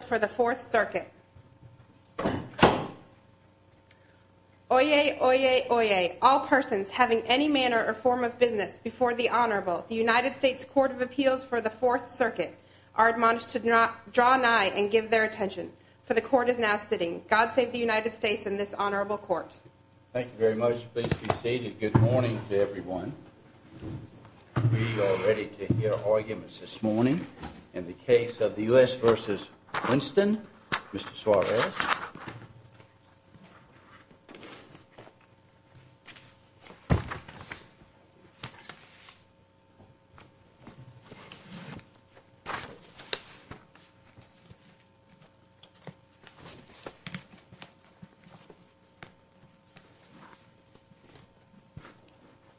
for the 4th Circuit. Oyez, oyez, oyez. All persons having any manner or form of business before the Honorable, the United States Court of Appeals for the 4th Circuit, are admonished to draw nigh and give their attention, for the Court is now sitting. God save the United States and this Honorable Court. Thank you very much. Please be seated. Good morning to everyone. We are ready to hear arguments this morning in the case of the U.S. v. Winston. Mr. Suarez.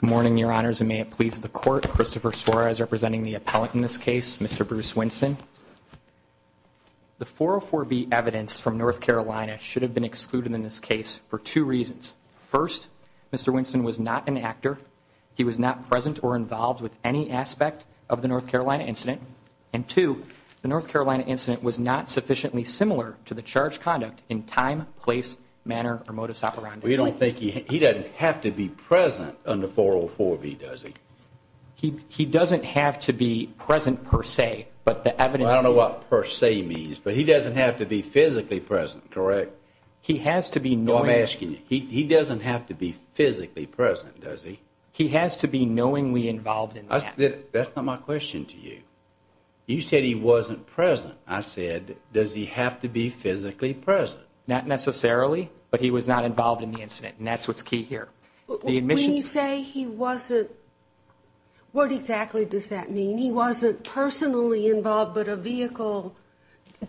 Good morning, Your Honors, and may it please the Court, Christopher Suarez representing the appellant in this case, Mr. Bruce Winston. The 404B evidence from North Carolina should have been excluded in this case for two reasons. First, Mr. Winston was not an actor. He was not present or involved with any aspect of the North Carolina incident. And two, the North Carolina incident was not sufficiently similar to the charged conduct in time, place, manner, or modus operandi. Well, you don't think he doesn't have to be present on the 404B, does he? He doesn't have to be present per se, but the evidence... I don't know what per se means, but he doesn't have to be physically present, correct? He has to be knowing... No, I'm asking you, he doesn't have to be physically present, does he? He has to be knowingly involved in the accident. That's not my question to you. You said he wasn't present. I said, does he have to be physically present? Not necessarily, but he was not involved in the incident, and that's what's key here. When you say he wasn't... What exactly does that mean? He wasn't personally involved, but a vehicle...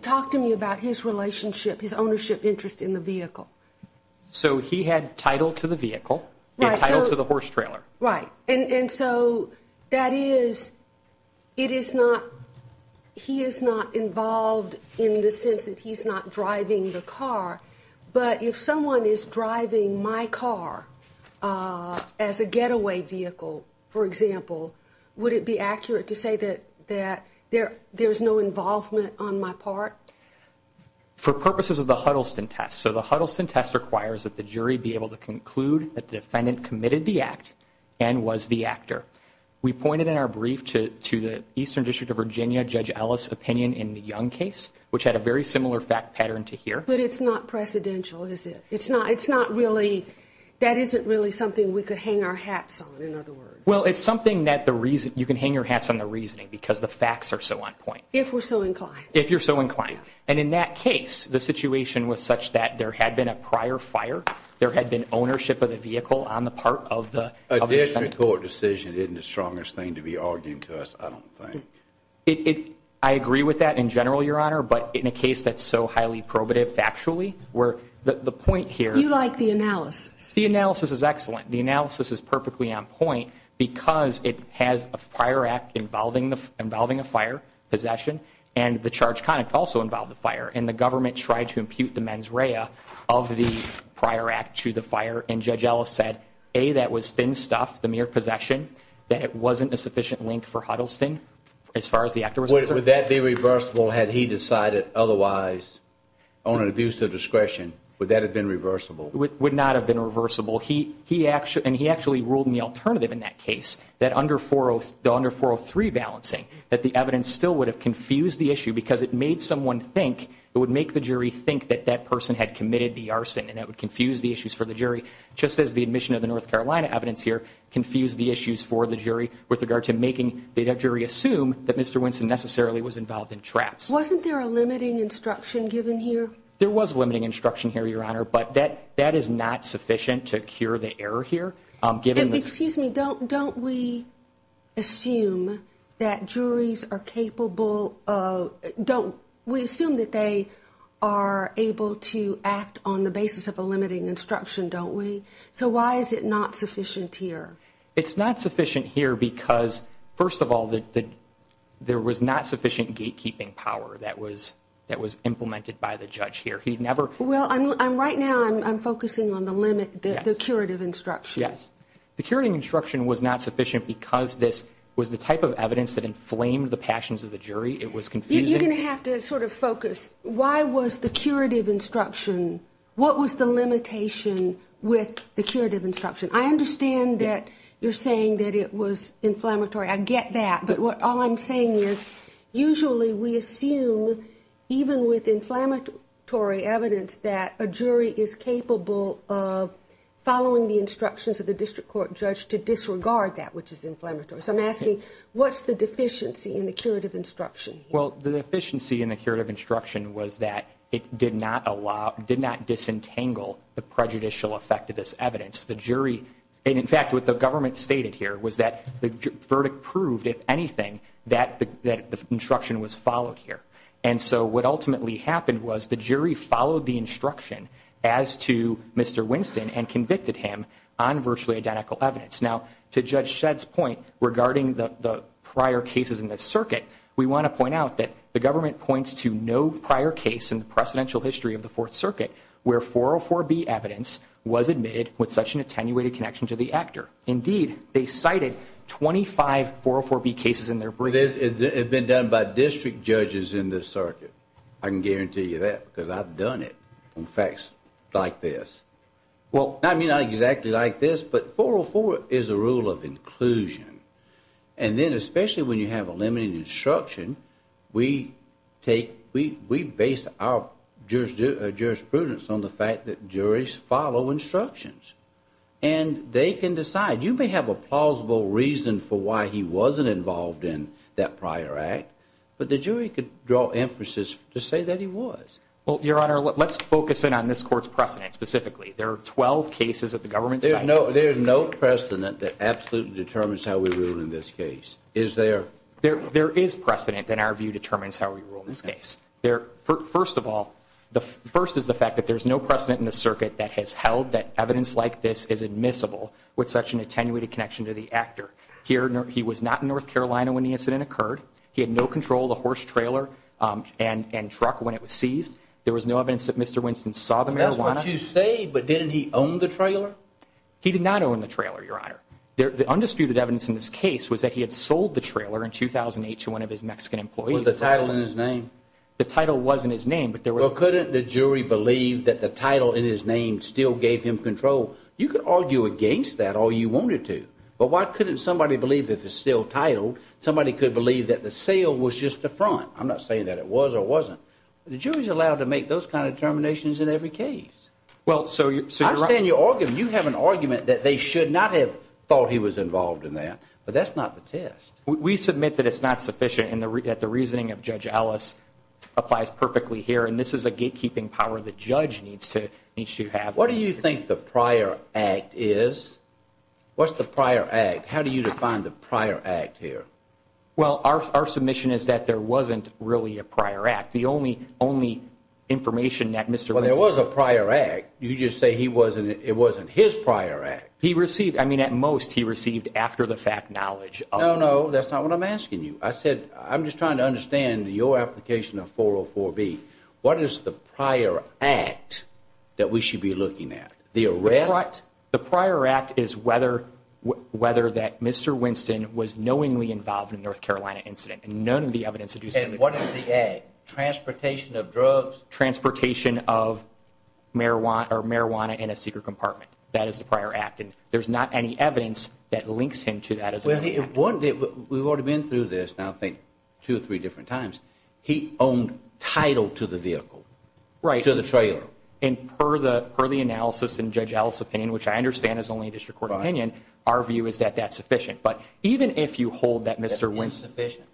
Talk to me about his relationship, his ownership interest in the vehicle. So he had title to the vehicle and title to the horse trailer. Right, and so that is... It is not... He is not involved in the sense that he's not driving the car, but if someone is driving my car as a getaway vehicle, for example, would it be accurate to say that there's no involvement on my part? For purposes of the Huddleston test, so the Huddleston test requires that the jury be able to conclude that the defendant committed the act and was the actor. We pointed in our brief to the Eastern District of Virginia Judge Ellis' opinion in the Young case, which had a very similar fact pattern to here. But it's not precedential, is it? It's not really... That isn't really something we could hang our hats on, in other words. Well, it's something that the reason... You can hang your hats on the reasoning because the facts are so on point. If we're so inclined. If you're so inclined. And in that case, the situation was such that there had been a prior fire, there had been ownership of the vehicle on the part of the defendant. A district court decision isn't the strongest thing to be arguing to us, I don't think. I agree with that in general, Your Honor, but in a case that's so highly probative factually, where the point here... You like the analysis. The analysis is excellent. The analysis is perfectly on point because it has a prior act involving a fire, possession, and the charge conduct also involved a fire. And the government tried to impute the mens rea of the prior act to the fire, and Judge Ellis said, A, that was thin stuff, the mere possession, that it wasn't a sufficient link for Huddleston as far as the actor was concerned. Would that be reversible had he decided otherwise on an abuse of discretion? Would that have been reversible? It would not have been reversible. And he actually ruled in the alternative in that case, that under 403 balancing, that the evidence still would have confused the issue because it made someone think, it would make the jury think that that person had committed the arson, and it would confuse the issues for the jury, just as the admission of the North Carolina evidence here confused the issues for the jury with regard to making the jury assume that Mr. Winston necessarily was involved in traps. Wasn't there a limiting instruction given here? There was a limiting instruction here, Your Honor, but that is not sufficient to cure the error here. Excuse me, don't we assume that juries are capable of, we assume that they are able to act on the basis of a limiting instruction, don't we? So why is it not sufficient here? It's not sufficient here because, first of all, there was not sufficient gatekeeping power that was implemented by the judge here. Well, right now I'm focusing on the limit, the curative instruction. Yes. The curative instruction was not sufficient because this was the type of evidence that inflamed the passions of the jury. It was confusing. You're going to have to sort of focus, why was the curative instruction, what was the limitation with the curative instruction? I understand that you're saying that it was inflammatory. I get that, but all I'm saying is usually we assume, even with inflammatory evidence, that a jury is capable of following the instructions of the district court judge to disregard that which is inflammatory. So I'm asking, what's the deficiency in the curative instruction here? Well, the deficiency in the curative instruction was that it did not disentangle the prejudicial effect of this evidence. In fact, what the government stated here was that the verdict proved, if anything, that the instruction was followed here. And so what ultimately happened was the jury followed the instruction as to Mr. Winston and convicted him on virtually identical evidence. Now, to Judge Shedd's point regarding the prior cases in this circuit, we want to point out that the government points to no prior case in the precedential history of the Fourth Circuit where 404B evidence was admitted with such an attenuated connection to the actor. Indeed, they cited 25 404B cases in their brief. It had been done by district judges in this circuit. I can guarantee you that because I've done it on facts like this. I mean, not exactly like this, but 404 is a rule of inclusion. And then especially when you have a limiting instruction, we base our jurisprudence on the fact that juries follow instructions. And they can decide. You may have a plausible reason for why he wasn't involved in that prior act, but the jury could draw emphasis to say that he was. Well, Your Honor, let's focus in on this court's precedent specifically. There are 12 cases that the government cited. There's no precedent that absolutely determines how we rule in this case, is there? There is precedent in our view determines how we rule in this case. First of all, the first is the fact that there's no precedent in the circuit that has held that evidence like this is admissible with such an attenuated connection to the actor. He was not in North Carolina when the incident occurred. He had no control of the horse trailer and truck when it was seized. There was no evidence that Mr. Winston saw the marijuana. That's what you say, but didn't he own the trailer? He did not own the trailer, Your Honor. The undisputed evidence in this case was that he had sold the trailer in 2008 to one of his Mexican employees. Was the title in his name? The title was in his name. Well, couldn't the jury believe that the title in his name still gave him control? You could argue against that all you wanted to, but why couldn't somebody believe if it's still titled somebody could believe that the sale was just the front? I'm not saying that it was or wasn't. The jury's allowed to make those kind of determinations in every case. I understand your argument. You have an argument that they should not have thought he was involved in that, but that's not the test. We submit that it's not sufficient and that the reasoning of Judge Ellis applies perfectly here, and this is a gatekeeping power the judge needs to have. What do you think the prior act is? What's the prior act? How do you define the prior act here? Well, our submission is that there wasn't really a prior act. The only information that Mr. Winston. Well, there was a prior act. You just say it wasn't his prior act. He received, I mean, at most he received after-the-fact knowledge. No, no, that's not what I'm asking you. I'm just trying to understand your application of 404B. What is the prior act that we should be looking at? The arrest? The prior act is whether that Mr. Winston was knowingly involved in a North Carolina incident, and none of the evidence suggests that. And what is the act? Transportation of drugs? Transportation of marijuana in a secret compartment. That is the prior act, and there's not any evidence that links him to that as a prior act. We've already been through this, I think, two or three different times. He owned title to the vehicle, to the trailer. Right, and per the analysis in Judge Ellis' opinion, which I understand is only a district court opinion, our view is that that's sufficient. But even if you hold that Mr. Winston. That's insufficient?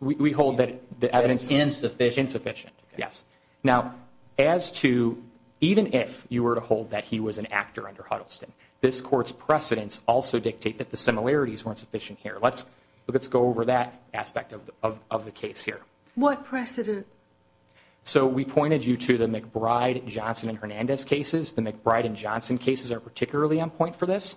We hold that the evidence is insufficient, yes. Now, as to even if you were to hold that he was an actor under Huddleston, this court's precedents also dictate that the similarities weren't sufficient here. Let's go over that aspect of the case here. What precedent? So we pointed you to the McBride, Johnson, and Hernandez cases. The McBride and Johnson cases are particularly on point for this.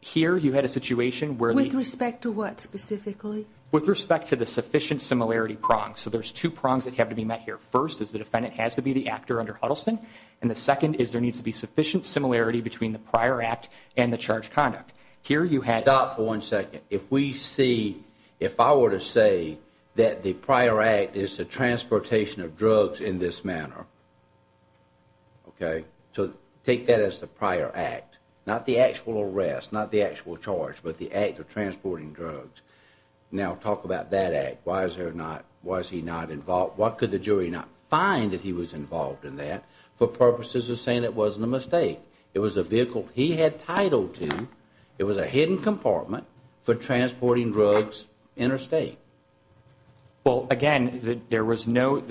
Here you had a situation where the- With respect to what specifically? With respect to the sufficient similarity prongs. So there's two prongs that have to be met here. First is the defendant has to be the actor under Huddleston, and the second is there needs to be sufficient similarity between the prior act and the charged conduct. Here you had- Stop for one second. If we see, if I were to say that the prior act is the transportation of drugs in this manner, okay, so take that as the prior act, not the actual arrest, not the actual charge, but the act of transporting drugs. Now, talk about that act. Why is there not-why is he not involved? Why could the jury not find that he was involved in that for purposes of saying it wasn't a mistake? It was a vehicle he had title to. It was a hidden compartment for transporting drugs interstate. Well, again, there was no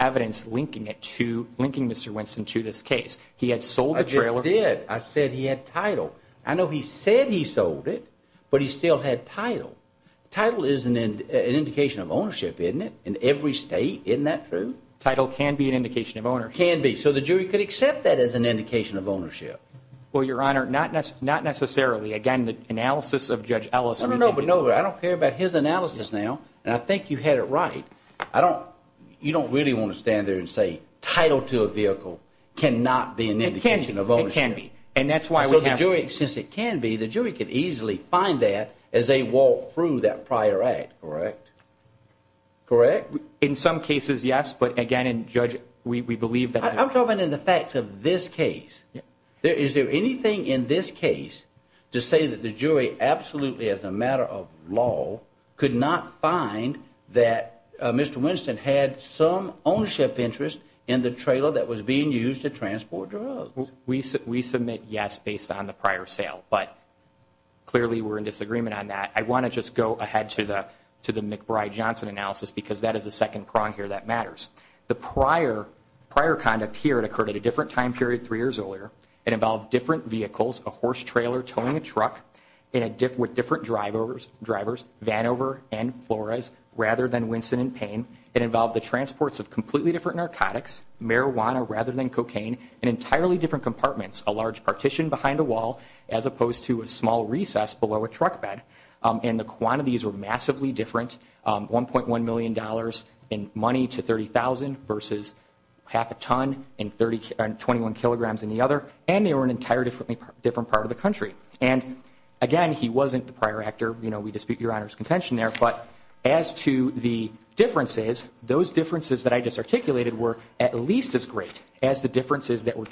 evidence linking it to-linking Mr. Winston to this case. He had sold the trailer- I just did. I said he had title. I know he said he sold it, but he still had title. Title is an indication of ownership, isn't it, in every state? Isn't that true? Title can be an indication of ownership. Can be. So the jury could accept that as an indication of ownership. Well, Your Honor, not necessarily. Again, the analysis of Judge Ellis- No, but no, I don't care about his analysis now, and I think you had it right. I don't-you don't really want to stand there and say title to a vehicle cannot be an indication of ownership. It can be. And that's why we have- Since it can be, the jury could easily find that as they walk through that prior act. Correct. Correct? In some cases, yes, but again, Judge, we believe that- I'm talking in the facts of this case. Is there anything in this case to say that the jury absolutely, as a matter of law, could not find that Mr. Winston had some ownership interest in the trailer that was being used to transport drugs? We submit yes based on the prior sale, but clearly we're in disagreement on that. I want to just go ahead to the McBride-Johnson analysis because that is the second prong here that matters. The prior conduct here, it occurred at a different time period three years earlier. It involved different vehicles, a horse trailer towing a truck with different drivers, Vanover and Flores, rather than Winston and Payne. It involved the transports of completely different narcotics, marijuana rather than cocaine, in entirely different compartments, a large partition behind a wall as opposed to a small recess below a truck bed. And the quantities were massively different, $1.1 million in money to $30,000 versus half a ton and 21 kilograms in the other. And they were in an entirely different part of the country. And again, he wasn't the prior actor. We dispute Your Honor's contention there, but as to the differences, those differences that I just articulated were at least as great as the differences that were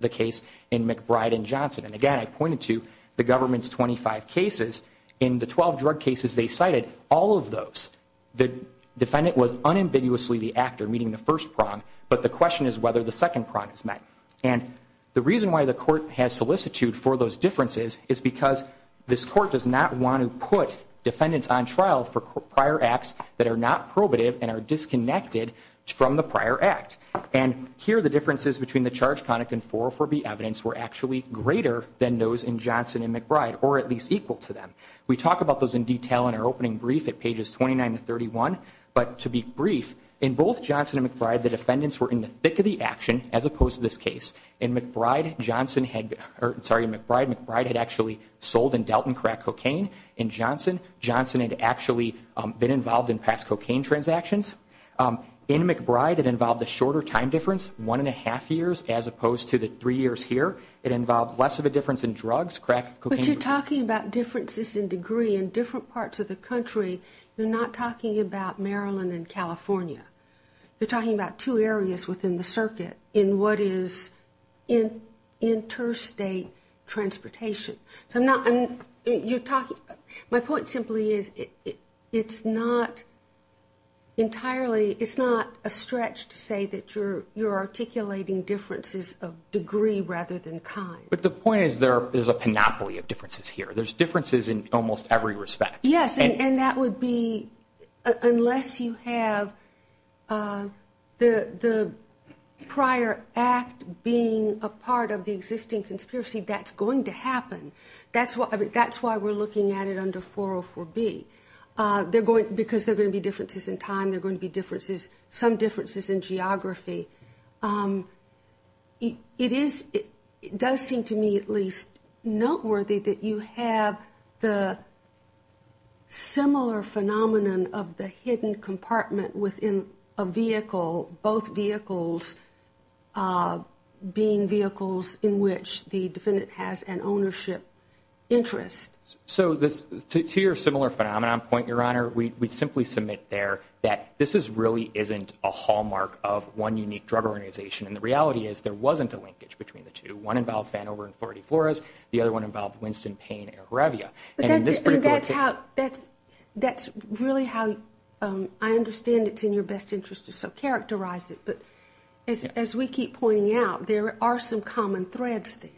the case in McBride and Johnson. And again, I pointed to the government's 25 cases. In the 12 drug cases they cited, all of those, the defendant was unambiguously the actor meeting the first prong, but the question is whether the second prong is met. And the reason why the court has solicitude for those differences is because this court does not want to put defendants on trial for prior acts that are not probative and are disconnected from the prior act. And here the differences between the charge conduct and 404B evidence were actually greater than those in Johnson and McBride, or at least equal to them. We talk about those in detail in our opening brief at pages 29 to 31, but to be brief, in both Johnson and McBride the defendants were in the thick of the action as opposed to this case. In McBride, McBride had actually sold and dealt in crack cocaine. In Johnson, Johnson had actually been involved in past cocaine transactions. In McBride it involved a shorter time difference, one and a half years, as opposed to the three years here. It involved less of a difference in drugs, crack cocaine. But you're talking about differences in degree in different parts of the country. You're not talking about Maryland and California. You're talking about two areas within the circuit in what is interstate transportation. So I'm not, you're talking, my point simply is it's not entirely, it's not a stretch to say that you're articulating differences of degree rather than kind. But the point is there is a panoply of differences here. There's differences in almost every respect. Yes, and that would be unless you have the prior act being a part of the existing conspiracy, that's going to happen. That's why we're looking at it under 404B. Because there are going to be differences in time, there are going to be differences, some differences in geography. It does seem to me at least noteworthy that you have the similar phenomenon of the hidden compartment within a vehicle, both vehicles being vehicles in which the defendant has an ownership interest. So to your similar phenomenon point, Your Honor, we simply submit there that this really isn't a hallmark of one unique drug organization. And the reality is there wasn't a linkage between the two. One involved Fanover and Floridiflores. The other one involved Winston Payne and Aravia. And that's really how I understand it's in your best interest to characterize it. But as we keep pointing out, there are some common threads there.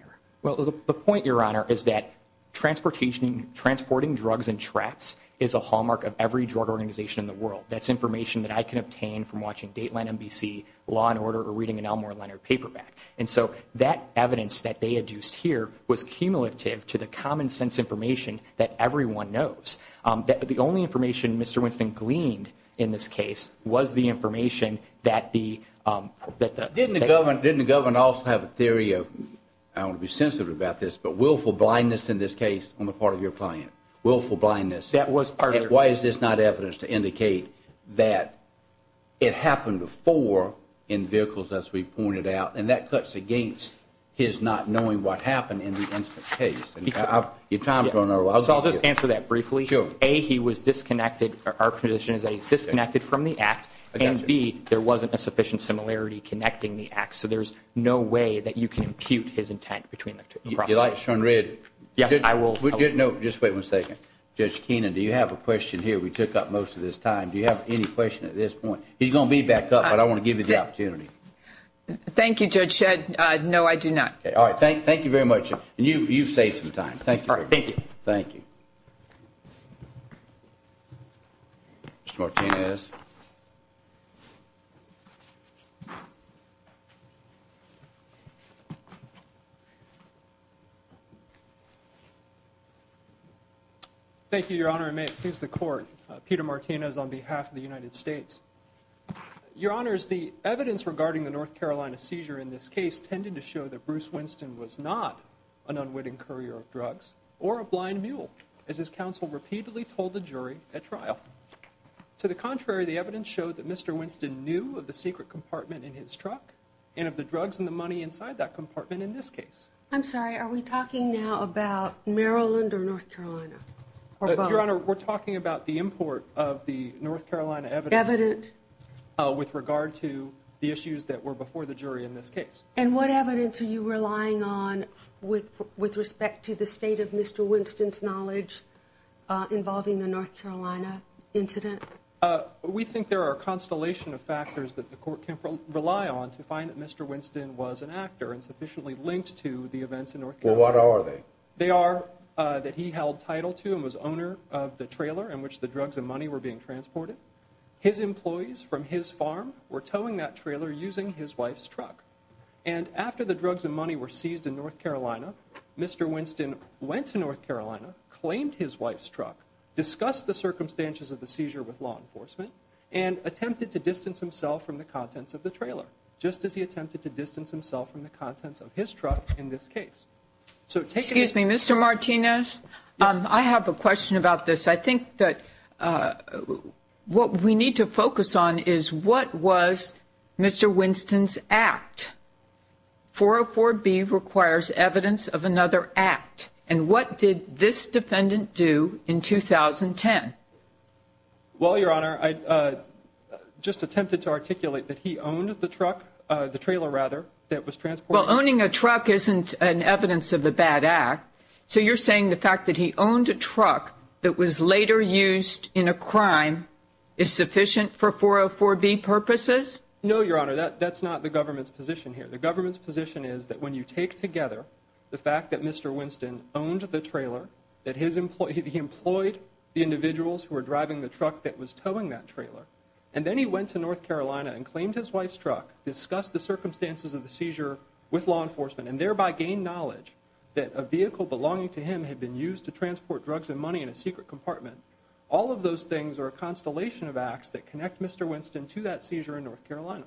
Well, the point, Your Honor, is that transporting drugs and traps is a hallmark of every drug organization in the world. That's information that I can obtain from watching Dateline NBC, Law & Order, or reading an Elmore Leonard paperback. And so that evidence that they adduced here was cumulative to the common sense information that everyone knows. The only information Mr. Winston gleaned in this case was the information that the- Didn't the government also have a theory of, I don't want to be sensitive about this, but willful blindness in this case on the part of your client? Willful blindness. That was part of- His not knowing what happened in the incident case. Your time is running out. I'll just answer that briefly. Sure. A, he was disconnected. Our position is that he's disconnected from the act. I got you. And B, there wasn't a sufficient similarity connecting the acts. So there's no way that you can impute his intent between the two. Do you like Sean Redd? Yes, I will- No, just wait one second. Judge Keenan, do you have a question here? We took up most of this time. Do you have any question at this point? He's going to be back up, but I want to give you the opportunity. Thank you, Judge Shedd. No, I do not. All right. Thank you very much. And you've saved some time. Thank you. Thank you. Mr. Martinez. Thank you, Your Honor. And may it please the Court, Peter Martinez on behalf of the United States. Your Honors, the evidence regarding the North Carolina seizure in this case tended to show that Bruce Winston was not an unwitting courier of drugs or a blind mule, as his counsel repeatedly told the jury at trial. To the contrary, the evidence showed that Mr. Winston knew of the secret compartment in his truck and of the drugs and the money inside that compartment in this case. I'm sorry. Are we talking now about Maryland or North Carolina? And what evidence? With regard to the issues that were before the jury in this case. And what evidence are you relying on with respect to the state of Mr. Winston's knowledge involving the North Carolina incident? We think there are a constellation of factors that the Court can rely on to find that Mr. Winston was an actor and sufficiently linked to the events in North Carolina. Well, what are they? They are that he held title to and was owner of the trailer in which the drugs and money were being transported. His employees from his farm were towing that trailer using his wife's truck. And after the drugs and money were seized in North Carolina, Mr. Winston went to North Carolina, claimed his wife's truck, discussed the circumstances of the seizure with law enforcement, and attempted to distance himself from the contents of the trailer, just as he attempted to distance himself from the contents of his truck in this case. Excuse me. Mr. Martinez, I have a question about this. I think that what we need to focus on is what was Mr. Winston's act? 404B requires evidence of another act. And what did this defendant do in 2010? Well, Your Honor, I just attempted to articulate that he owned the truck, the trailer rather, that was transported. Well, owning a truck isn't an evidence of a bad act. So you're saying the fact that he owned a truck that was later used in a crime is sufficient for 404B purposes? No, Your Honor, that's not the government's position here. The government's position is that when you take together the fact that Mr. Winston owned the trailer, that he employed the individuals who were driving the truck that was towing that trailer, and then he went to North Carolina and thereby gained knowledge that a vehicle belonging to him had been used to transport drugs and money in a secret compartment, all of those things are a constellation of acts that connect Mr. Winston to that seizure in North Carolina.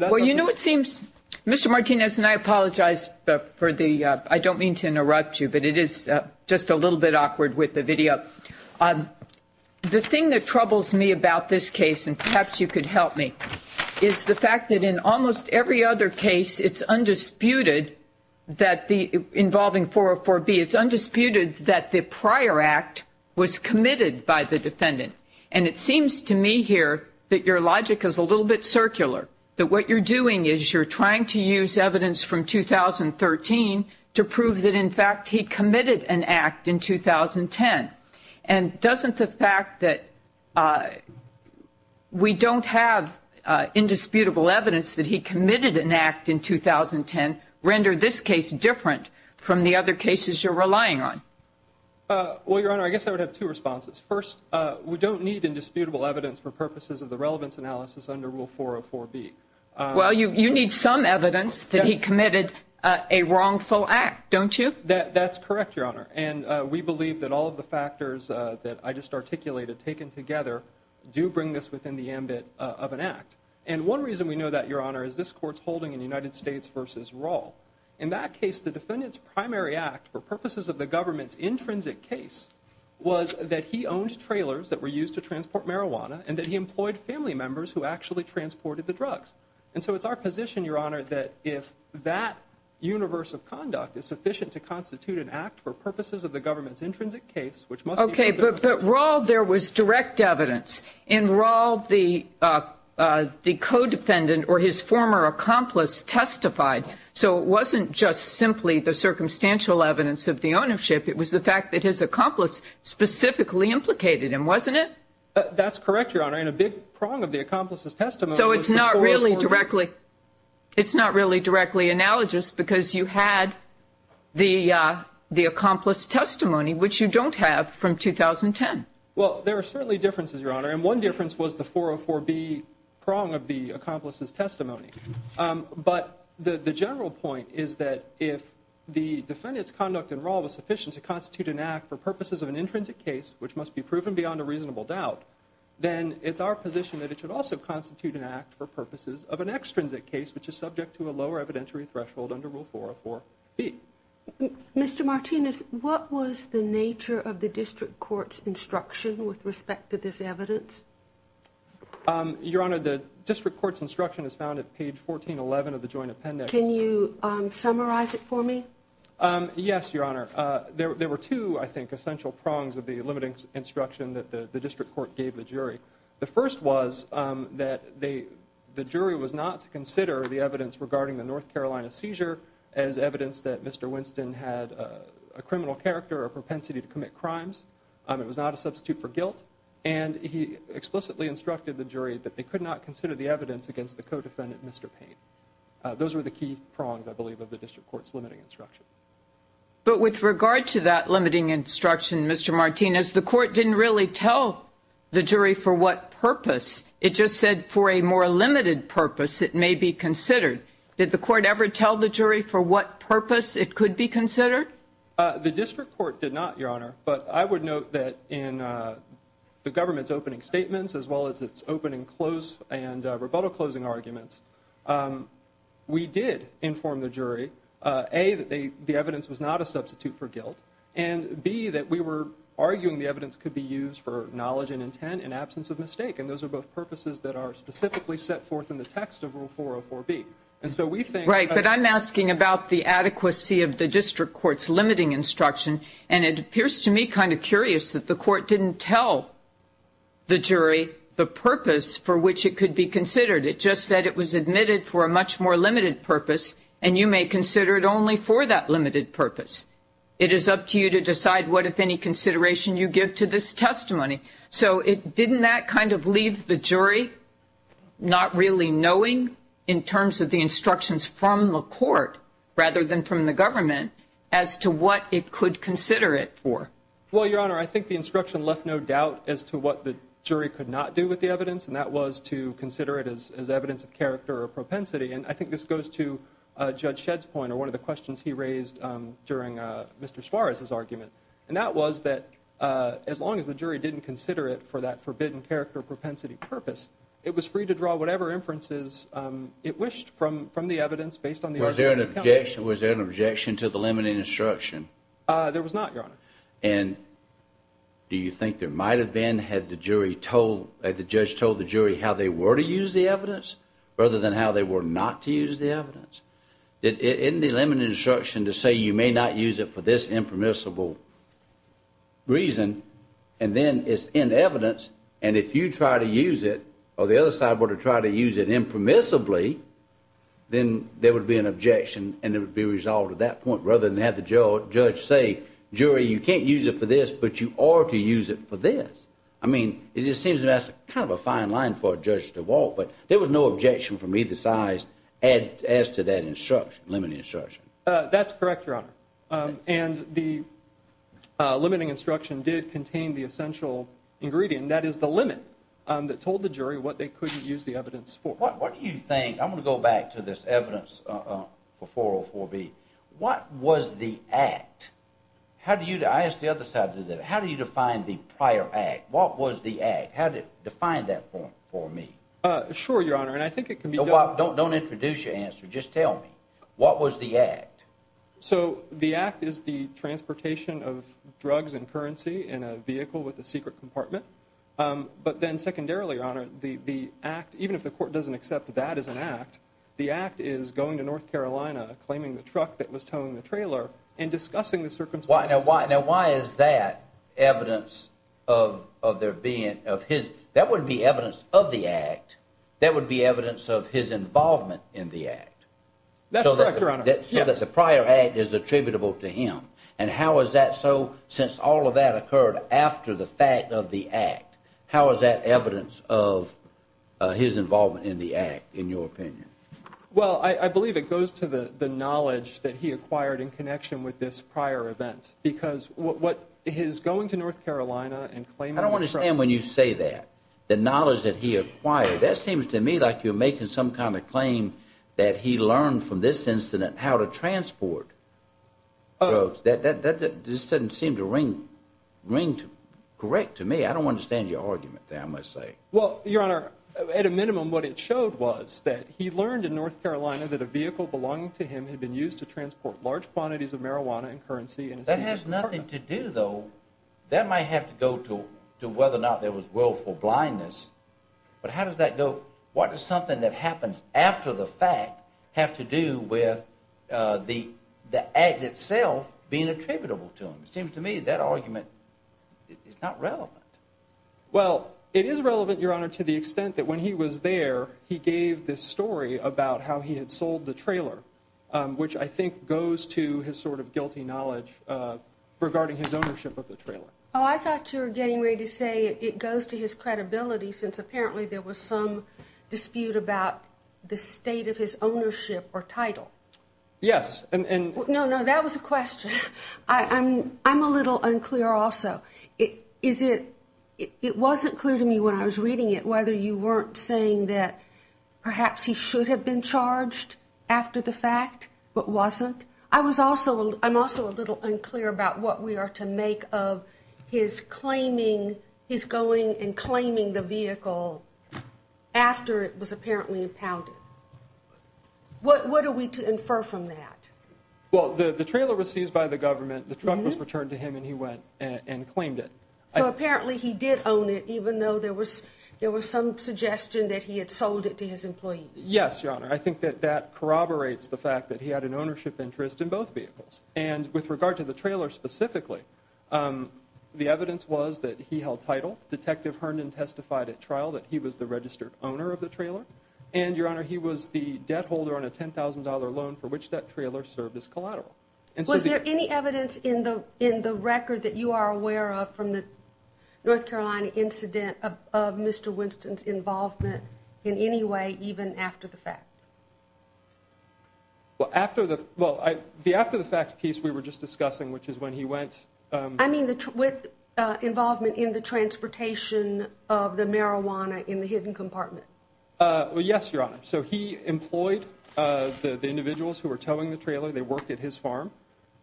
Well, you know, it seems, Mr. Martinez, and I apologize for the, I don't mean to interrupt you, but it is just a little bit awkward with the video. The thing that troubles me about this case, and perhaps you could help me, is the fact that in almost every other case involving 404B, it's undisputed that the prior act was committed by the defendant. And it seems to me here that your logic is a little bit circular, that what you're doing is you're trying to use evidence from 2013 to prove that, in fact, he committed an act in 2010. And doesn't the fact that we don't have indisputable evidence that he committed an act in 2010 render this case different from the other cases you're relying on? Well, Your Honor, I guess I would have two responses. First, we don't need indisputable evidence for purposes of the relevance analysis under Rule 404B. Well, you need some evidence that he committed a wrongful act, don't you? That's correct, Your Honor. And we believe that all of the factors that I just articulated, taken together, do bring this within the ambit of an act. And one reason we know that, Your Honor, is this Court's holding in United States v. Roll. In that case, the defendant's primary act for purposes of the government's intrinsic case was that he owned trailers that were used to transport marijuana and that he employed family members who actually transported the drugs. And so it's our position, Your Honor, that if that universe of conduct is sufficient to constitute an act for purposes of the government's intrinsic case, which must be made clear. Okay, but Roll, there was direct evidence. In Roll, the co-defendant or his former accomplice testified. So it wasn't just simply the circumstantial evidence of the ownership. It was the fact that his accomplice specifically implicated him, wasn't it? That's correct, Your Honor. And a big prong of the accomplice's testimony was the 404B. So it's not really directly analogous because you had the accomplice's testimony, which you don't have from 2010. Well, there are certainly differences, Your Honor, and one difference was the 404B prong of the accomplice's testimony. But the general point is that if the defendant's conduct in Roll was sufficient to constitute an act for purposes of an intrinsic case, which must be proven beyond a reasonable doubt, then it's our position that it should also constitute an act for purposes of an extrinsic case, which is subject to a lower evidentiary threshold under Rule 404B. Mr. Martinez, what was the nature of the district court's instruction with respect to this evidence? Your Honor, the district court's instruction is found at page 1411 of the joint appendix. Can you summarize it for me? Yes, Your Honor. There were two, I think, essential prongs of the limiting instruction that the district court gave the jury. The first was that the jury was not to consider the evidence regarding the North Carolina seizure as evidence that Mr. Winston had a criminal character or propensity to commit crimes. It was not a substitute for guilt. And he explicitly instructed the jury that they could not consider the evidence against the co-defendant, Mr. Payne. Those were the key prongs, I believe, of the district court's limiting instruction. But with regard to that limiting instruction, Mr. Martinez, the court didn't really tell the jury for what purpose. It just said for a more limited purpose it may be considered. Did the court ever tell the jury for what purpose it could be considered? The district court did not, Your Honor. But I would note that in the government's opening statements as well as its opening and rebuttal closing arguments, we did inform the jury, A, that the evidence was not a substitute for guilt, and, B, that we were arguing the evidence could be used for knowledge and intent in absence of mistake. And those are both purposes that are specifically set forth in the text of Rule 404B. And so we think- Right, but I'm asking about the adequacy of the district court's limiting instruction. And it appears to me kind of curious that the court didn't tell the jury the purpose for which it could be considered. It just said it was admitted for a much more limited purpose, and you may consider it only for that limited purpose. It is up to you to decide what, if any, consideration you give to this testimony. So didn't that kind of leave the jury not really knowing, in terms of the instructions from the court, rather than from the government, as to what it could consider it for? Well, Your Honor, I think the instruction left no doubt as to what the jury could not do with the evidence, and that was to consider it as evidence of character or propensity. And I think this goes to Judge Shedd's point, or one of the questions he raised during Mr. Suarez's argument, and that was that as long as the jury didn't consider it for that forbidden character or propensity purpose, it was free to draw whatever inferences it wished from the evidence based on the arguments it counted. Was there an objection to the limiting instruction? There was not, Your Honor. And do you think there might have been had the judge told the jury how they were to use the evidence rather than how they were not to use the evidence? Isn't the limiting instruction to say you may not use it for this impermissible reason, and then it's in evidence, and if you try to use it or the other side were to try to use it impermissibly, then there would be an objection and it would be resolved at that point, rather than have the judge say, jury, you can't use it for this, but you are to use it for this. I mean, it just seems that's kind of a fine line for a judge to walk, but there was no objection from either side as to that instruction, limiting instruction. That's correct, Your Honor. And the limiting instruction did contain the essential ingredient, and that is the limit that told the jury what they could use the evidence for. What do you think, I'm going to go back to this evidence for 404B, what was the act? I asked the other side to do that. How do you define the prior act? What was the act? How did it define that for me? Sure, Your Honor, and I think it can be done. Don't introduce your answer. Just tell me. What was the act? So the act is the transportation of drugs and currency in a vehicle with a secret compartment. But then secondarily, Your Honor, the act, even if the court doesn't accept that as an act, the act is going to North Carolina, claiming the truck that was towing the trailer, and discussing the circumstances. Now why is that evidence of there being, that would be evidence of the act. That would be evidence of his involvement in the act. That's correct, Your Honor. So that the prior act is attributable to him. And how is that so since all of that occurred after the fact of the act? How is that evidence of his involvement in the act, in your opinion? Well, I believe it goes to the knowledge that he acquired in connection with this prior event. Because what his going to North Carolina and claiming the truck. I don't understand when you say that. The knowledge that he acquired, that seems to me like you're making some kind of claim that he learned from this incident how to transport drugs. That doesn't seem to ring correct to me. I don't understand your argument there, I must say. Well, Your Honor, at a minimum what it showed was that he learned in North Carolina that a vehicle belonging to him had been used to transport large quantities of marijuana and currency. That has nothing to do, though. That might have to go to whether or not there was willful blindness. But how does that go? What does something that happens after the fact have to do with the act itself being attributable to him? It seems to me that argument is not relevant. Well, it is relevant, Your Honor, to the extent that when he was there, he gave this story about how he had sold the trailer, which I think goes to his sort of guilty knowledge regarding his ownership of the trailer. Oh, I thought you were getting ready to say it goes to his credibility since apparently there was some dispute about the state of his ownership or title. Yes, and... No, no, that was a question. I'm a little unclear also. Is it... it wasn't clear to me when I was reading it whether you weren't saying that perhaps he should have been charged after the fact but wasn't. I was also... I'm also a little unclear about what we are to make of his claiming, his going and claiming the vehicle after it was apparently impounded. What are we to infer from that? Well, the trailer was seized by the government. The truck was returned to him and he went and claimed it. So apparently he did own it even though there was some suggestion that he had sold it to his employees. Yes, Your Honor. I think that that corroborates the fact that he had an ownership interest in both vehicles. And with regard to the trailer specifically, the evidence was that he held title. Detective Herndon testified at trial that he was the registered owner of the trailer. And, Your Honor, he was the debt holder on a $10,000 loan for which that trailer served as collateral. Was there any evidence in the record that you are aware of from the North Carolina incident of Mr. Winston's involvement in any way even after the fact? Well, after the fact piece we were just discussing, which is when he went... I mean with involvement in the transportation of the marijuana in the hidden compartment. Well, yes, Your Honor. So he employed the individuals who were towing the trailer. They worked at his farm.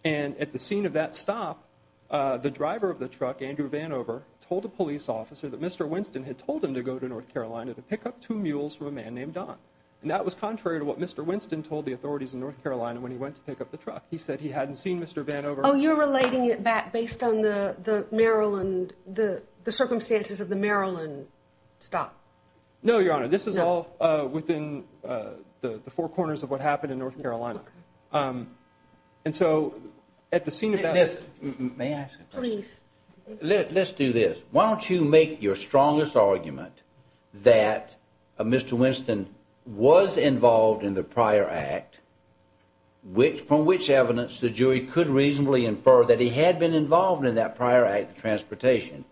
And at the scene of that stop, the driver of the truck, Andrew Vanover, told a police officer that Mr. Winston had told him to go to North Carolina to pick up two mules for a man named Don. And that was contrary to what Mr. Winston told the authorities in North Carolina when he went to pick up the truck. He said he hadn't seen Mr. Vanover. Oh, you're relating it back based on the circumstances of the Maryland stop? No, Your Honor. This is all within the four corners of what happened in North Carolina. Okay. And so at the scene of that... May I ask a question? Please. Let's do this. Why don't you make your strongest argument that Mr. Winston was involved in the prior act, from which evidence the jury could reasonably infer that he had been involved in that prior act of transportation.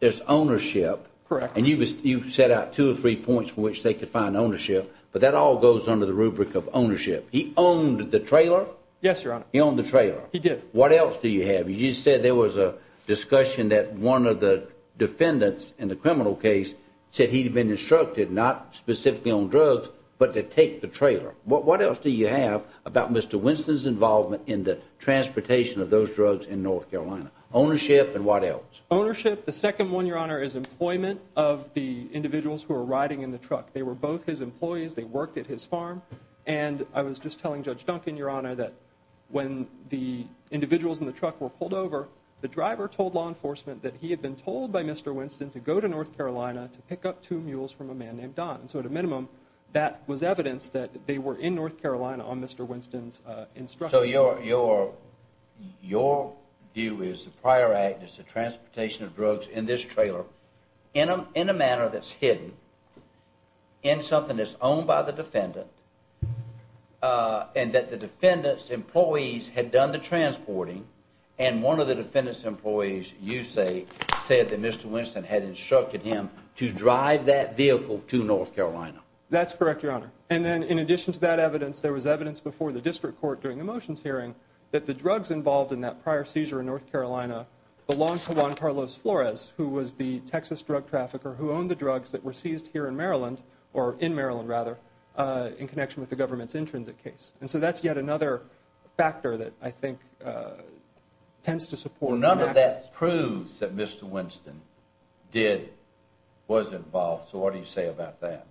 There's ownership. Correct. And you've set out two or three points from which they could find ownership, but that all goes under the rubric of ownership. He owned the trailer? Yes, Your Honor. He owned the trailer. He did. What else do you have? You said there was a discussion that one of the defendants in the criminal case said he'd been instructed, not specifically on drugs, but to take the trailer. What else do you have about Mr. Winston's involvement in the transportation of those drugs in North Carolina? Ownership and what else? Ownership. The second one, Your Honor, is employment of the individuals who were riding in the truck. They were both his employees. They worked at his farm, and I was just telling Judge Duncan, Your Honor, that when the individuals in the truck were pulled over, the driver told law enforcement that he had been told by Mr. Winston to go to North Carolina to pick up two mules from a man named Don. So at a minimum, that was evidence that they were in North Carolina on Mr. Winston's instructions. So your view is the prior act is the transportation of drugs in this trailer in a manner that's hidden, in something that's owned by the defendant, and that the defendant's employees had done the transporting, and one of the defendant's employees, you say, said that Mr. Winston had instructed him to drive that vehicle to North Carolina. That's correct, Your Honor. And then in addition to that evidence, there was evidence before the district court during the motions hearing that the drugs involved in that prior seizure in North Carolina belonged to Juan Carlos Flores, who was the Texas drug trafficker who owned the drugs that were seized here in Maryland, or in Maryland rather, in connection with the government's intrinsic case. And so that's yet another factor that I think tends to support. None of that proves that Mr. Winston did, was involved. So what do you say about that?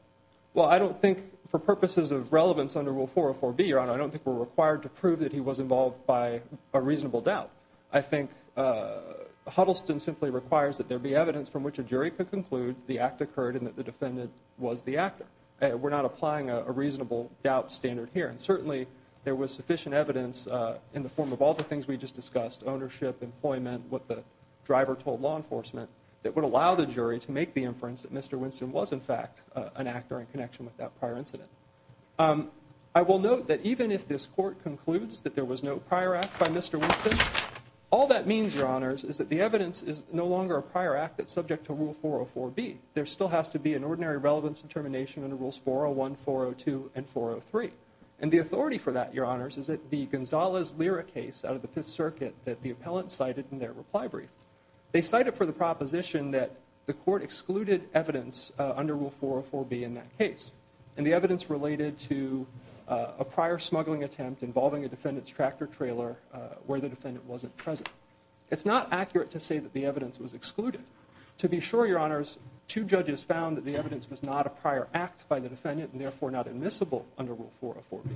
Well, I don't think for purposes of relevance under Rule 404B, Your Honor, I don't think we're required to prove that he was involved by a reasonable doubt. I think Huddleston simply requires that there be evidence from which a jury could conclude the act occurred and that the defendant was the actor. We're not applying a reasonable doubt standard here, and certainly there was sufficient evidence in the form of all the things we just discussed, ownership, employment, what the driver told law enforcement, that would allow the jury to make the inference that Mr. Winston was, in fact, an actor in connection with that prior incident. I will note that even if this Court concludes that there was no prior act by Mr. Winston, all that means, Your Honors, is that the evidence is no longer a prior act that's subject to Rule 404B. There still has to be an ordinary relevance determination under Rules 401, 402, and 403. And the authority for that, Your Honors, is that the Gonzalez-Lira case out of the Fifth Circuit that the appellant cited in their reply brief, they cited for the proposition that the Court excluded evidence under Rule 404B in that case, and the evidence related to a prior smuggling attempt involving a defendant's tractor trailer where the defendant wasn't present. It's not accurate to say that the evidence was excluded. To be sure, Your Honors, two judges found that the evidence was not a prior act by the defendant and therefore not admissible under Rule 404B,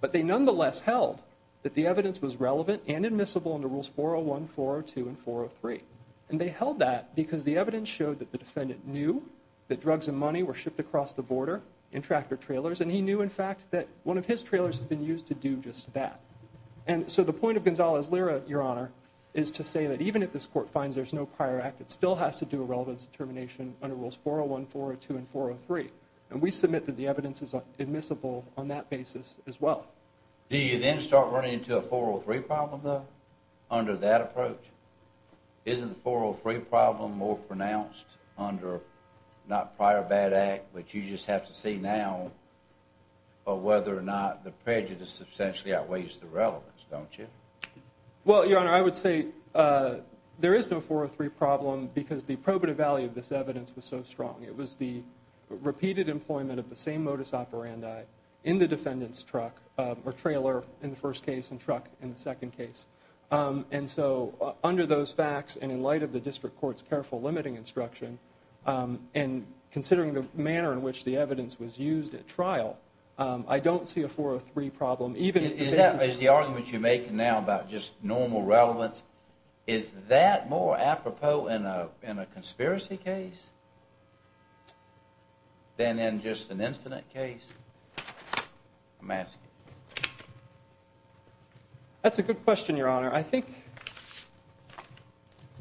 but they nonetheless held that the evidence was relevant and admissible under Rules 401, 402, and 403. And they held that because the evidence showed that the defendant knew that drugs and money were shipped across the border in tractor trailers, and he knew, in fact, that one of his trailers had been used to do just that. And so the point of Gonzalez-Lira, Your Honor, is to say that even if this Court finds there's no prior act, it still has to do a relevance determination under Rules 401, 402, and 403. And we submit that the evidence is admissible on that basis as well. Do you then start running into a 403 problem, though, under that approach? Isn't the 403 problem more pronounced under not prior bad act, which you just have to see now, or whether or not the prejudice substantially outweighs the relevance, don't you? Well, Your Honor, I would say there is no 403 problem because the probative value of this evidence was so strong. It was the repeated employment of the same modus operandi in the defendant's truck or trailer in the first case and truck in the second case. And so under those facts and in light of the district court's careful limiting instruction and considering the manner in which the evidence was used at trial, I don't see a 403 problem. Is the argument you're making now about just normal relevance, is that more apropos in a conspiracy case than in just an incident case? I'm asking you. That's a good question, Your Honor. I think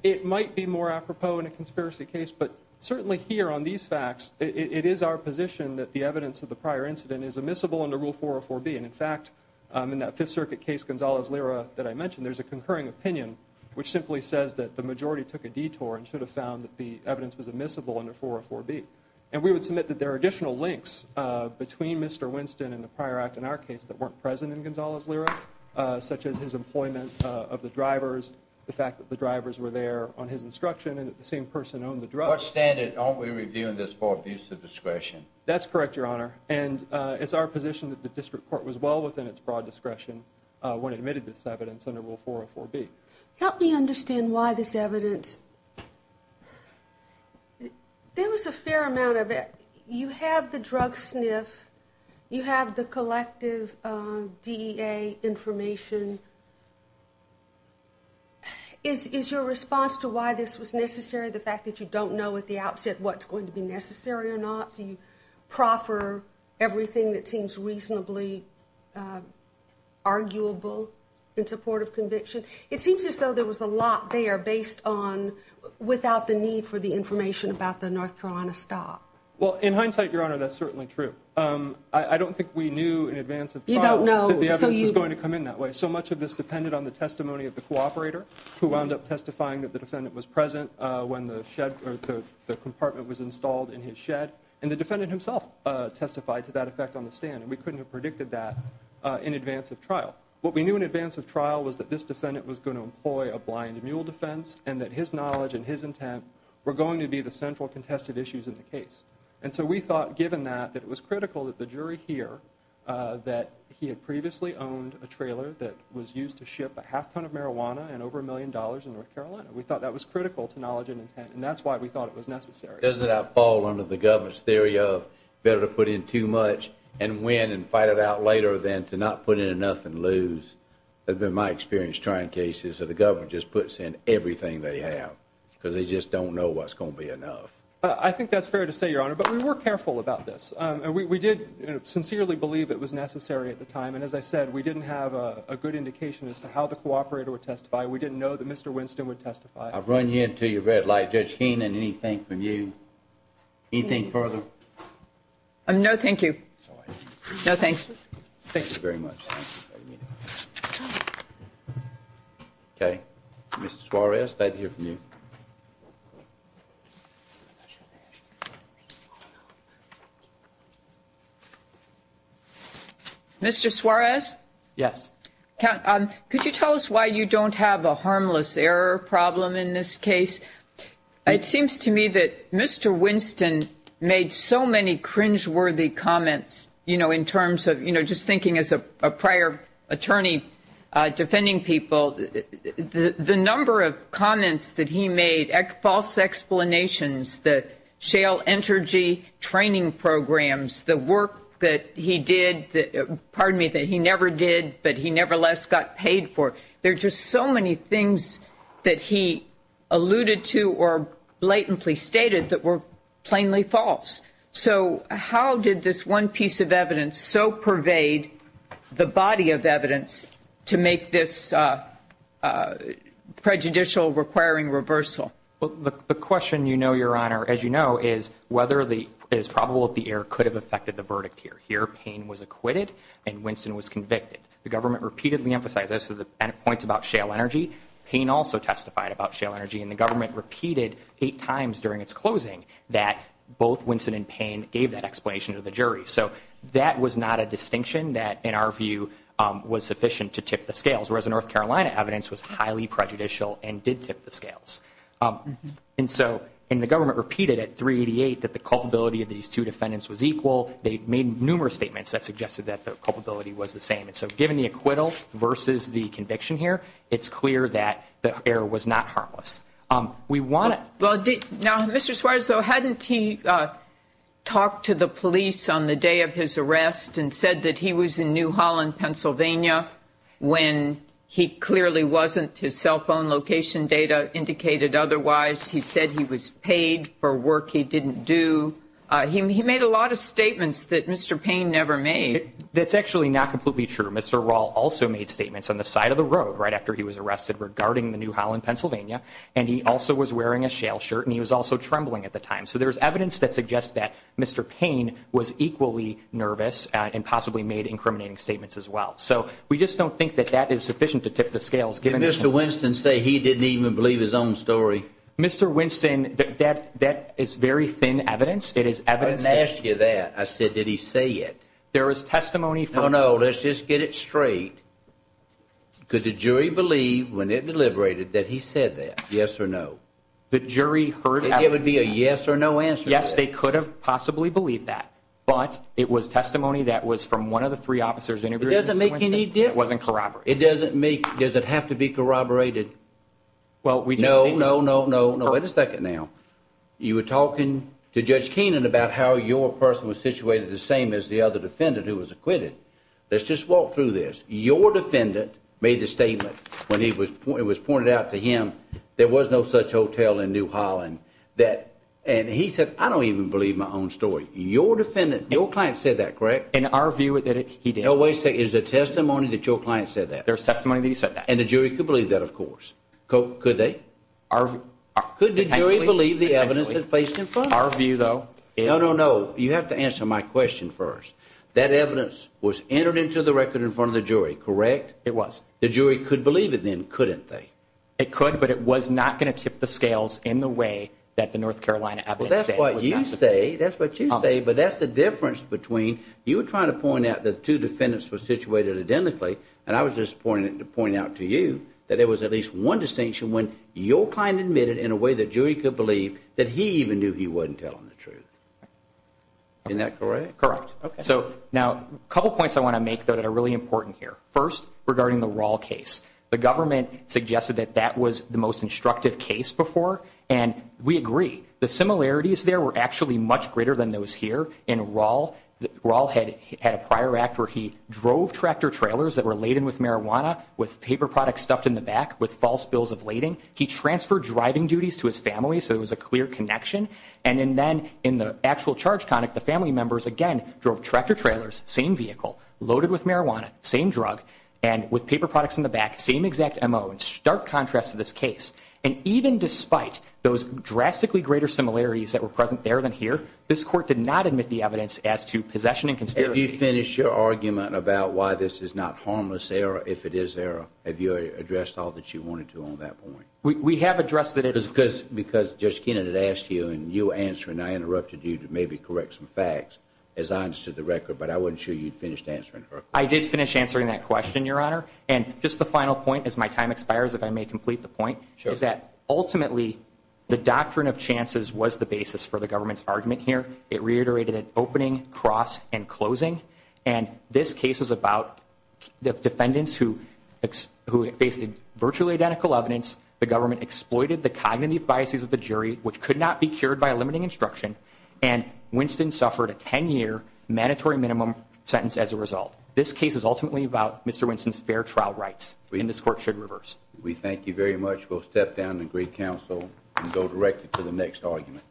it might be more apropos in a conspiracy case, but certainly here on these facts, it is our position that the evidence of the prior incident is admissible under Rule 404B. And, in fact, in that Fifth Circuit case, Gonzalez-Lira, that I mentioned, there's a concurring opinion which simply says that the majority took a detour and should have found that the evidence was admissible under 404B. And we would submit that there are additional links between Mr. Winston and the prior act in our case that weren't present in Gonzalez-Lira, such as his employment of the drivers, the fact that the drivers were there on his instruction and that the same person owned the truck. What standard aren't we reviewing this for abuse of discretion? That's correct, Your Honor. And it's our position that the district court was well within its broad discretion when it admitted this evidence under Rule 404B. Help me understand why this evidence. There was a fair amount of it. You have the drug sniff. You have the collective DEA information. Is your response to why this was necessary the fact that you don't know at the outset what's going to be necessary or not? Do you proffer everything that seems reasonably arguable in support of conviction? It seems as though there was a lot there based on without the need for the information about the North Carolina stop. Well, in hindsight, Your Honor, that's certainly true. I don't think we knew in advance of trial that the evidence was going to come in that way. So much of this depended on the testimony of the cooperator who wound up testifying that the defendant was present when the compartment was installed in his shed, and the defendant himself testified to that effect on the stand, and we couldn't have predicted that in advance of trial. What we knew in advance of trial was that this defendant was going to employ a blind mule defense and that his knowledge and his intent were going to be the central contested issues in the case. And so we thought, given that, that it was critical that the jury hear that he had previously owned a trailer that was used to ship a half ton of marijuana and over a million dollars in North Carolina. We thought that was critical to knowledge and intent, and that's why we thought it was necessary. Does it outfall under the government's theory of better to put in too much and win and fight it out later than to not put in enough and lose? In my experience, trial cases, the government just puts in everything they have because they just don't know what's going to be enough. I think that's fair to say, Your Honor, but we were careful about this. We did sincerely believe it was necessary at the time, and as I said, we didn't have a good indication as to how the cooperator would testify. We didn't know that Mr. Winston would testify. I'll run you into your red light, Judge Keenan. Anything from you? Anything further? No, thank you. No, thanks. Thank you very much. Okay. Mr. Suarez, I'd like to hear from you. Mr. Suarez? Yes. Could you tell us why you don't have a harmless error problem in this case? It seems to me that Mr. Winston made so many cringeworthy comments, you know, in terms of, you know, just thinking as a prior attorney defending people, the number of comments that he made, false explanations, the shale energy training programs, the work that he did, pardon me, that he never did but he nevertheless got paid for. There are just so many things that he alluded to or blatantly stated that were plainly false. So how did this one piece of evidence so pervade the body of evidence to make this prejudicial requiring reversal? Well, the question, you know, Your Honor, as you know, is whether it is probable that the error could have affected the verdict here. Here, Payne was acquitted and Winston was convicted. The government repeatedly emphasized this. And it points about shale energy. Payne also testified about shale energy. And the government repeated eight times during its closing that both Winston and Payne gave that explanation to the jury. So that was not a distinction that, in our view, was sufficient to tip the scales, whereas the North Carolina evidence was highly prejudicial and did tip the scales. And so the government repeated at 388 that the culpability of these two defendants was equal. They made numerous statements that suggested that the culpability was the same. And so given the acquittal versus the conviction here, it's clear that the error was not harmless. Now, Mr. Suarez, though, hadn't he talked to the police on the day of his arrest and said that he was in New Holland, Pennsylvania when he clearly wasn't? His cell phone location data indicated otherwise. He said he was paid for work he didn't do. He made a lot of statements that Mr. Payne never made. That's actually not completely true. Mr. Raul also made statements on the side of the road right after he was arrested regarding the New Holland, Pennsylvania. And he also was wearing a shale shirt, and he was also trembling at the time. So there is evidence that suggests that Mr. Payne was equally nervous and possibly made incriminating statements as well. So we just don't think that that is sufficient to tip the scales. Did Mr. Winston say he didn't even believe his own story? Mr. Winston, that is very thin evidence. I didn't ask you that. I said, did he say it? There is testimony from... No, no, let's just get it straight. Could the jury believe when it deliberated that he said that, yes or no? The jury heard... Could there be a yes or no answer to that? Yes, they could have possibly believed that. But it was testimony that was from one of the three officers interviewed... It doesn't make any difference... It wasn't corroborated. It doesn't make... Does it have to be corroborated? Well, we just... No, no, no, no, no. Wait a second now. You were talking to Judge Keenan about how your person was situated the same as the other defendant who was acquitted. Let's just walk through this. Your defendant made the statement when it was pointed out to him there was no such hotel in New Holland that... And he said, I don't even believe my own story. Your defendant... Your client said that, correct? In our view, he did. Wait a second. Is it testimony that your client said that? There is testimony that he said that. And the jury could believe that, of course. Could they? Could the jury believe the evidence that's placed in front of them? In our view, though. No, no, no. You have to answer my question first. That evidence was entered into the record in front of the jury, correct? It was. The jury could believe it then, couldn't they? It could, but it was not going to tip the scales in the way that the North Carolina evidence... Well, that's what you say. That's what you say. But that's the difference between... You were trying to point out that the two defendants were situated identically. And I was just pointing out to you that there was at least one distinction when your client admitted in a way the jury could believe that he even knew he wasn't telling the truth. Isn't that correct? Correct. Now, a couple points I want to make that are really important here. First, regarding the Rall case. The government suggested that that was the most instructive case before. And we agree. The similarities there were actually much greater than those here. In Rall, Rall had a prior act where he drove tractor trailers that were laden with marijuana with paper products stuffed in the back with false bills of lading. He transferred driving duties to his family, so there was a clear connection. And then in the actual charge conduct, the family members, again, drove tractor trailers, same vehicle, loaded with marijuana, same drug, and with paper products in the back, same exact M.O. It's a stark contrast to this case. And even despite those drastically greater similarities that were present there than here, this Court did not admit the evidence as to possession and conspiracy. Have you finished your argument about why this is not harmless error if it is error? Have you addressed all that you wanted to on that point? We have addressed it. Because Judge Kenan had asked you, and you answered, and I interrupted you to maybe correct some facts, as honest to the record. But I wasn't sure you'd finished answering her question. I did finish answering that question, Your Honor. And just the final point, as my time expires, if I may complete the point, is that ultimately the doctrine of chances was the basis for the government's argument here. It reiterated an opening, cross, and closing. And this case was about defendants who faced virtually identical evidence. The government exploited the cognitive biases of the jury, which could not be cured by limiting instruction. And Winston suffered a 10-year mandatory minimum sentence as a result. This case is ultimately about Mr. Winston's fair trial rights, and this Court should reverse. We thank you very much. We'll step down and agree counsel and go directly to the next argument.